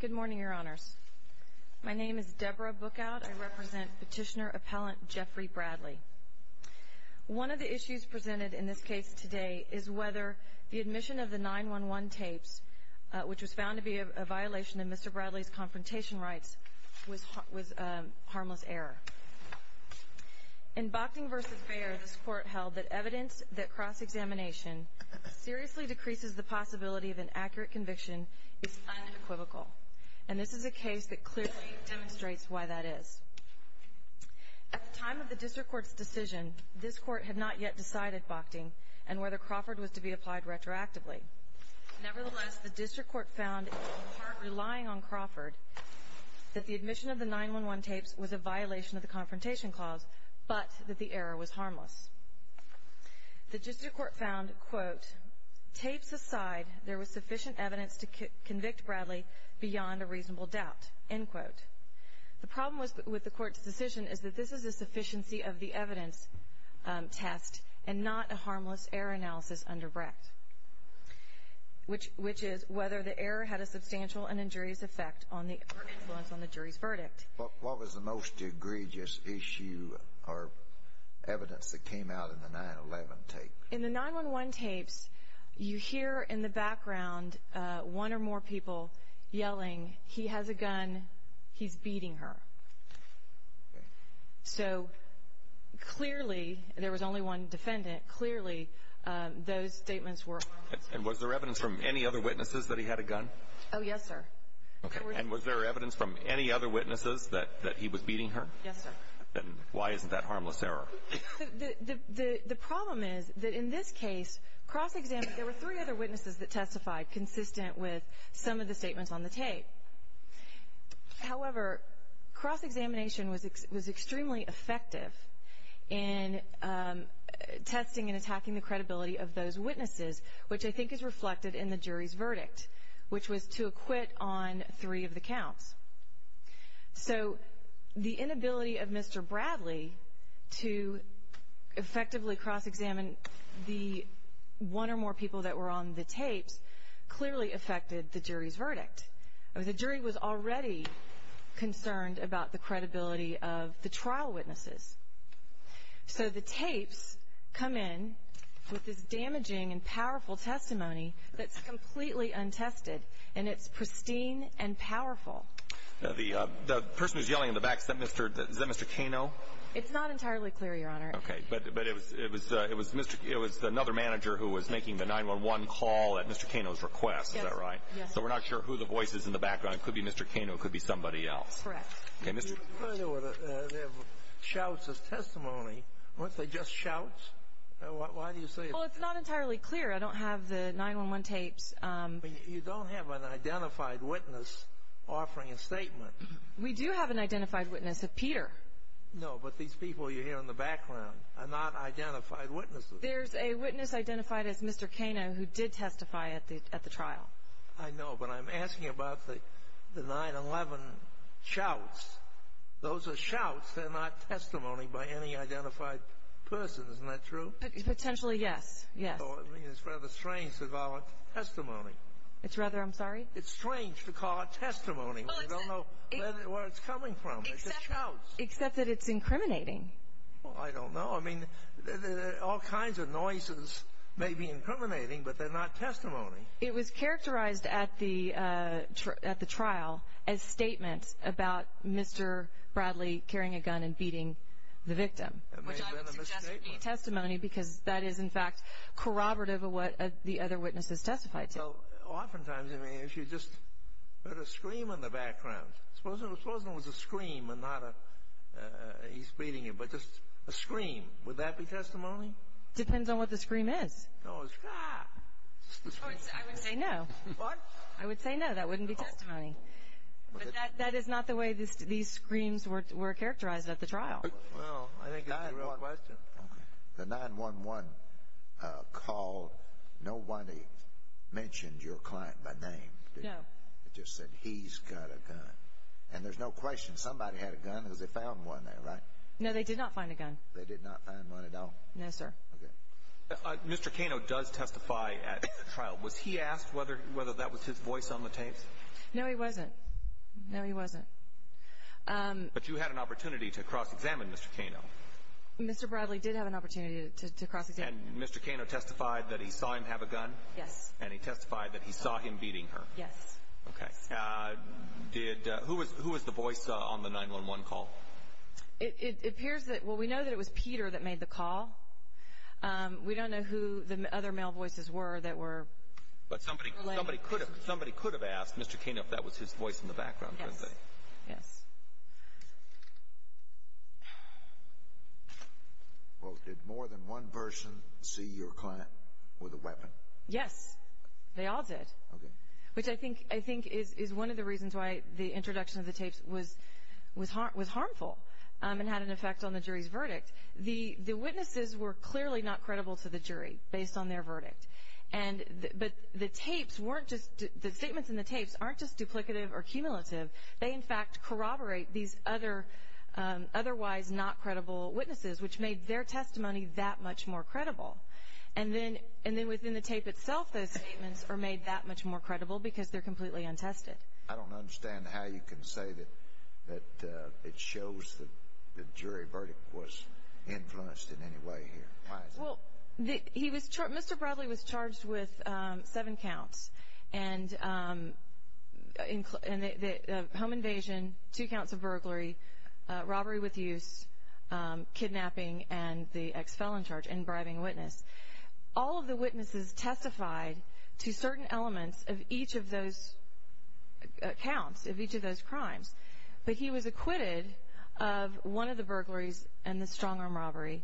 Good morning, your honors. My name is Deborah Bookout. I represent petitioner appellant Jeffrey Bradley. One of the issues presented in this case today is whether the admission of the 9-1-1 tapes, which was found to be a violation of Mr. Bradley's confrontation rights, was a harmless error. In Bochting v. Fair, this court held that evidence that cross-examination seriously decreases the possibility of an accurate conviction is unequivocal, and this is a case that clearly demonstrates why that is. At the time of the district court's decision, this court had not yet decided, Bochting, and whether Crawford was to be applied retroactively. Nevertheless, the district court found, in part relying on Crawford, that the admission of the 9-1-1 tapes was a violation of the confrontation clause, but that the error was harmless. The district court found, quote, tapes aside, there was sufficient evidence to convict Bradley beyond a reasonable doubt, end quote. The problem was with the court's decision is that this is a sufficiency of the evidence test and not a harmless error analysis under Brecht, which is whether the error had a substantial and injurious effect on the influence on the jury's verdict. What was the most egregious issue or evidence that came out of the 9-1-1 tape? In the 9-1-1 tapes, you hear in the background one or more people yelling, he has a gun, he's beating her. So, clearly, there was only one defendant, clearly, those statements were harmless. And was there evidence from any other witnesses that he had a gun? Oh, yes, sir. Okay, and was there evidence from any other witnesses that he was beating her? Yes, sir. Then why isn't that harmless error? The problem is that in this case, cross-examination, there were three other witnesses that testified consistent with some of the statements on the tape. However, cross-examination was extremely effective in testing and attacking the credibility of those witnesses, which I think is reflected in the jury's verdict, which was to acquit on three of the counts. So, the inability of Mr. Bradley to effectively cross-examine the one or more people that were on the tapes clearly affected the jury's verdict. The jury was already concerned about the credibility of the trial witnesses. So, the tapes come in with this damaging and powerful testimony that's The person who's yelling in the back, is that Mr. Kano? It's not entirely clear, Your Honor. Okay, but it was another manager who was making the 911 call at Mr. Kano's request, is that right? Yes. So, we're not sure who the voice is in the background. It could be Mr. Kano. It could be somebody else. Correct. Okay, Mr. They have shouts as testimony. Weren't they just shouts? Why do you say that? Well, it's not entirely clear. I don't have the 911 tapes. You don't have an identified witness offering a statement. We do have an identified witness of Peter. No, but these people you hear in the background are not identified witnesses. There's a witness identified as Mr. Kano who did testify at the trial. I know, but I'm asking about the 911 shouts. Those are shouts. They're not testimony by any identified person, isn't that true? Potentially, yes. Yes. Well, I mean, it's rather strange to call it testimony. It's rather, I'm sorry? It's strange to call it testimony. We don't know where it's coming from. It's just shouts. Except that it's incriminating. Well, I don't know. I mean, all kinds of noises may be incriminating, but they're not testimony. It was characterized at the trial as statements about Mr. Bradley carrying a gun and beating the victim. Which I would suggest would be testimony because that is, in fact, corroborative of what the other witnesses testified to. Oftentimes, I mean, if you just heard a scream in the background, suppose there was a scream and not a he's beating him, but just a scream, would that be testimony? Depends on what the scream is. No, it's just the scream. I would say no. What? I would say no, that wouldn't be testimony. But that is not the way these screams were characterized at the trial. Well, I think it's a real question. The 911 call, nobody mentioned your client by name, did they? No. They just said, he's got a gun. And there's no question somebody had a gun because they found one there, right? No, they did not find a gun. They did not find one at all? No, sir. Okay. Mr. Cano does testify at the trial. Was he asked whether that was his voice on the tapes? No, he wasn't. No, he wasn't. But you had an opportunity to cross-examine Mr. Cano. Mr. Bradley did have an opportunity to cross-examine him. And Mr. Cano testified that he saw him have a gun? Yes. And he testified that he saw him beating her? Yes. Okay. Who was the voice on the 911 call? It appears that, well, we know that it was Peter that made the call. We don't know who the other male voices were that were related to this. But somebody could have asked Mr. Cano if that was his voice in the background, we can say. Yes. Well, did more than one person see your client with a weapon? Yes. They all did. Okay. Which I think is one of the reasons why the introduction of the tapes was harmful and had an effect on the jury's verdict. The witnesses were clearly not credible to the jury based on their verdict. But the tapes weren't just the statements in the tapes aren't just duplicative or cumulative. They, in fact, corroborate these otherwise not credible witnesses, which made their testimony that much more credible. And then within the tape itself, those statements are made that much more credible because they're completely untested. I don't understand how you can say that it shows that the jury verdict was influenced in any way here. Why is that? Mr. Bradley was charged with seven counts, home invasion, two counts of burglary, robbery with use, kidnapping, and the ex-felon charge, and bribing witness. All of the witnesses testified to certain elements of each of those counts, of each of those crimes, but he was acquitted of one of the burglaries and the strong-arm robbery,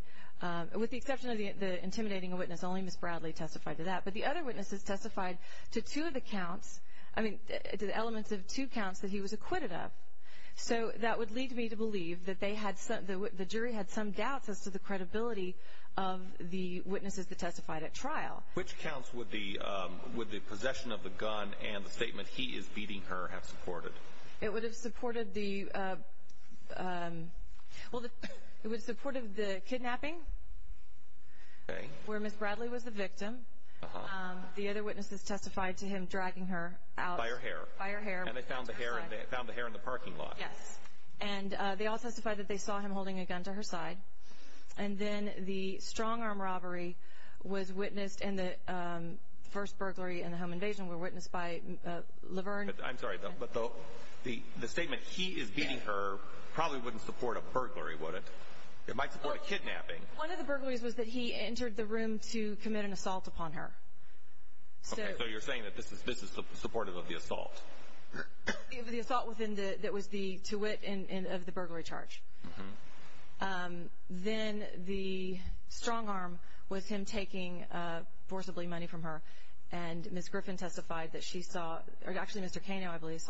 with the exception of the intimidating witness. Only Ms. Bradley testified to that. But the other witnesses testified to two of the counts, I mean, to the elements of two counts that he was acquitted of. So that would lead me to believe that the jury had some doubts as to the credibility of the witnesses that testified at trial. Which counts would the possession of the gun and the statement, he is beating her, have supported? It would have supported the kidnapping, where Ms. Bradley was the victim. The other witnesses testified to him dragging her out. By her hair. By her hair. And they found the hair in the parking lot. Yes. And they all testified that they saw him holding a gun to her side. And then the strong-arm robbery was witnessed, and the first burglary and the home invasion were witnessed by Laverne. I'm sorry, but the statement, he is beating her, probably wouldn't support a burglary, would it? It might support a kidnapping. One of the burglaries was that he entered the room to commit an assault upon her. Okay, so you're saying that this is supportive of the assault. The assault that was to wit of the burglary charge. Then the strong-arm was him taking forcibly money from her, and Ms. Griffin testified that she saw, or actually Mr. Kano, I believe,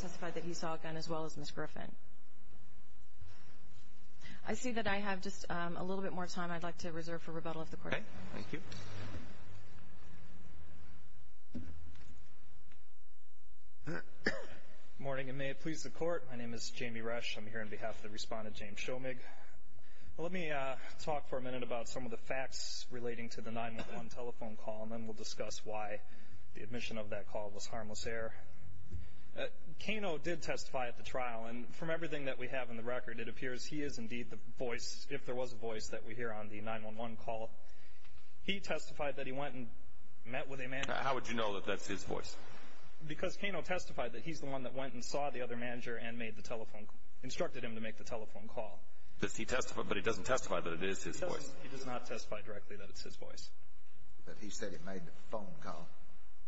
testified that he saw a gun as well as Ms. Griffin. I see that I have just a little bit more time I'd like to reserve for rebuttal of the court. Okay. Thank you. Good morning, and may it please the Court. My name is Jamie Resch. I'm here on behalf of the respondent, James Shomig. Let me talk for a minute about some of the facts relating to the 911 telephone call, and then we'll discuss why the admission of that call was harmless error. Kano did testify at the trial, and from everything that we have in the record, it appears he is indeed the voice, if there was a voice, that we hear on the 911 call. He testified that he went and met with a manager. How would you know that that's his voice? Because Kano testified that he's the one that went and saw the other manager and instructed him to make the telephone call. But he doesn't testify that it is his voice. He does not testify directly that it's his voice. But he said he made the phone call.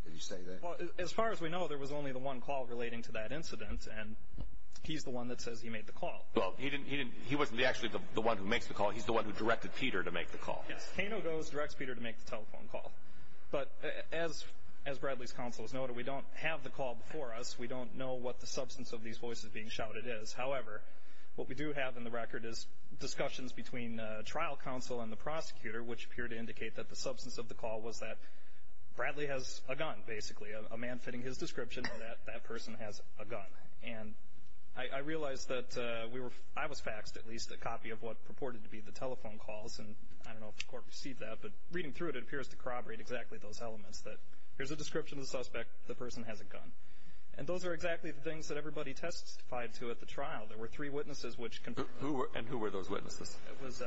Did he say that? Well, as far as we know, there was only the one call relating to that incident, and he's the one that says he made the call. Well, he wasn't actually the one who makes the call. He's the one who directed Peter to make the call. Yes. Kano goes, directs Peter to make the telephone call. But as Bradley's counsel has noted, we don't have the call before us. We don't know what the substance of these voices being shouted is. However, what we do have in the record is discussions between trial counsel and the prosecutor, which appear to indicate that the substance of the call was that Bradley has a gun, basically, a man fitting his description that that person has a gun. And I realize that I was faxed at least a copy of what purported to be the telephone calls, and I don't know if the court received that. But reading through it, it appears to corroborate exactly those elements, that here's a description of the suspect, the person has a gun. And those are exactly the things that everybody testified to at the trial. There were three witnesses which confirmed that. And who were those witnesses? It was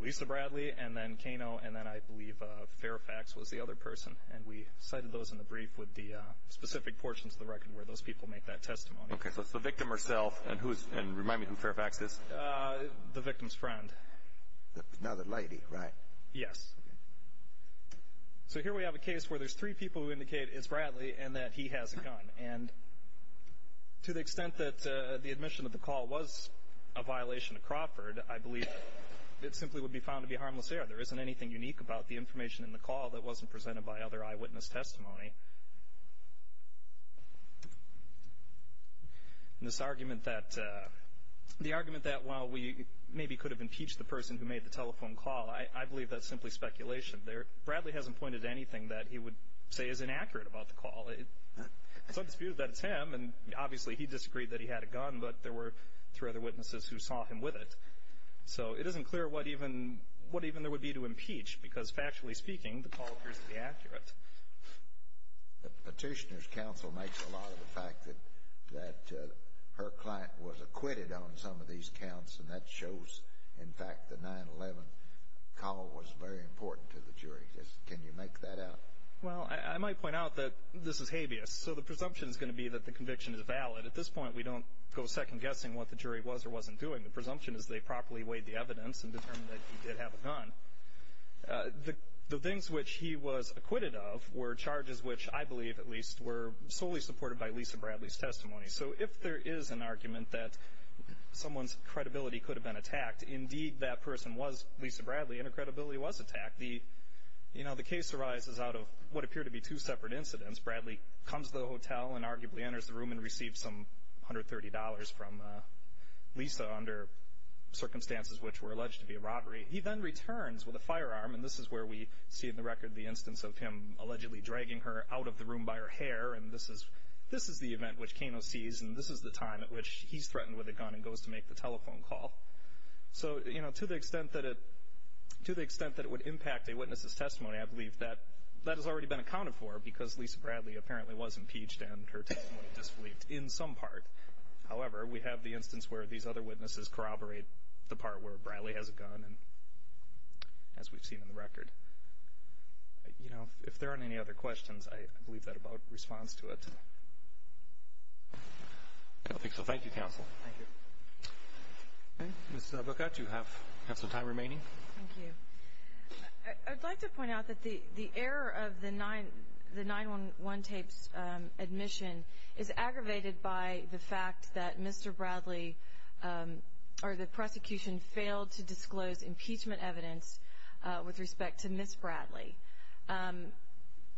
Lisa Bradley, and then Kano, and then I believe Fairfax was the other person. And we cited those in the brief with the specific portions of the record where those people make that testimony. Okay, so it's the victim herself, and remind me who Fairfax is. The victim's friend. Now the lady, right? Yes. So here we have a case where there's three people who indicate it's Bradley and that he has a gun. And to the extent that the admission of the call was a violation of Crawford, I believe it simply would be found to be harmless error. There isn't anything unique about the information in the call that wasn't presented by other eyewitness testimony. And this argument that while we maybe could have impeached the person who made the telephone call, I believe that's simply speculation. Bradley hasn't pointed to anything that he would say is inaccurate about the call. It's undisputed that it's him, and obviously he disagreed that he had a gun, but there were three other witnesses who saw him with it. So it isn't clear what even there would be to impeach because factually speaking the call appears to be accurate. The petitioner's counsel makes a lot of the fact that her client was acquitted on some of these counts, and that shows, in fact, the 9-11 call was very important to the jury. Can you make that out? Well, I might point out that this is habeas. So the presumption is going to be that the conviction is valid. At this point, we don't go second-guessing what the jury was or wasn't doing. The presumption is they properly weighed the evidence and determined that he did have a gun. The things which he was acquitted of were charges which I believe, at least, were solely supported by Lisa Bradley's testimony. So if there is an argument that someone's credibility could have been attacked, indeed that person was Lisa Bradley and her credibility was attacked. The case arises out of what appear to be two separate incidents. Bradley comes to the hotel and arguably enters the room and receives some $130 from Lisa under circumstances which were alleged to be a robbery. He then returns with a firearm, and this is where we see in the record the instance of him allegedly dragging her out of the room by her hair. And this is the event which Kano sees, and this is the time at which he's threatened with a gun and goes to make the telephone call. So, you know, to the extent that it would impact a witness's testimony, I believe that that has already been accounted for because Lisa Bradley apparently was impeached and her testimony disbelieved in some part. However, we have the instance where these other witnesses corroborate the part where Bradley has a gun, as we've seen in the record. You know, if there aren't any other questions, I believe that about responds to it. I don't think so. Thank you, counsel. Thank you. Okay. Ms. Boccaccio, you have some time remaining. Thank you. I'd like to point out that the error of the 9-1-1 tape's admission is aggravated by the fact that Mr. Bradley or the prosecution failed to disclose impeachment evidence with respect to Ms. Bradley.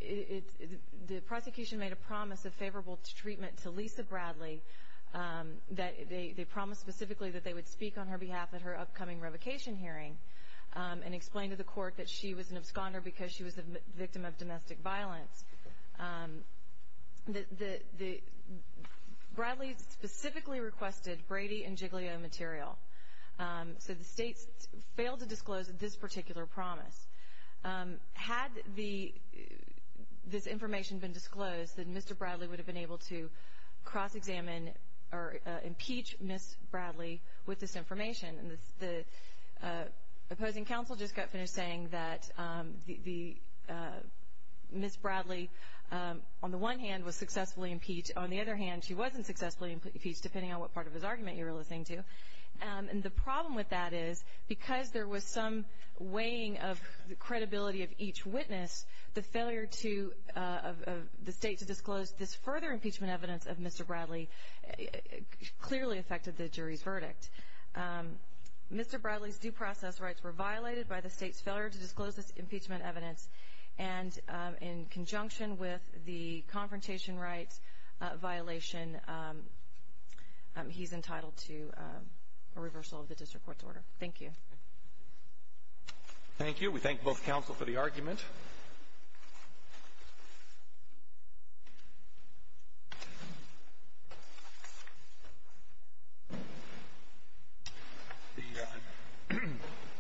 The prosecution made a promise of favorable treatment to Lisa Bradley. They promised specifically that they would speak on her behalf at her upcoming revocation hearing and explain to the court that she was an absconder because she was a victim of domestic violence. Bradley specifically requested Brady and Giglio material. So the state failed to disclose this particular promise. Had this information been disclosed, then Mr. Bradley would have been able to cross-examine or impeach Ms. Bradley with this information. And the opposing counsel just got finished saying that Ms. Bradley, on the one hand, was successfully impeached. On the other hand, she wasn't successfully impeached, depending on what part of his argument you were listening to. And the problem with that is because there was some weighing of the credibility of each witness, the failure of the state to disclose this further impeachment evidence of Mr. Bradley clearly affected the jury's verdict. Mr. Bradley's due process rights were violated by the state's failure to disclose this impeachment evidence. And in conjunction with the confrontation rights violation, he's entitled to a reversal of the district court's order. Thank you. Thank you. We thank both counsel for the argument.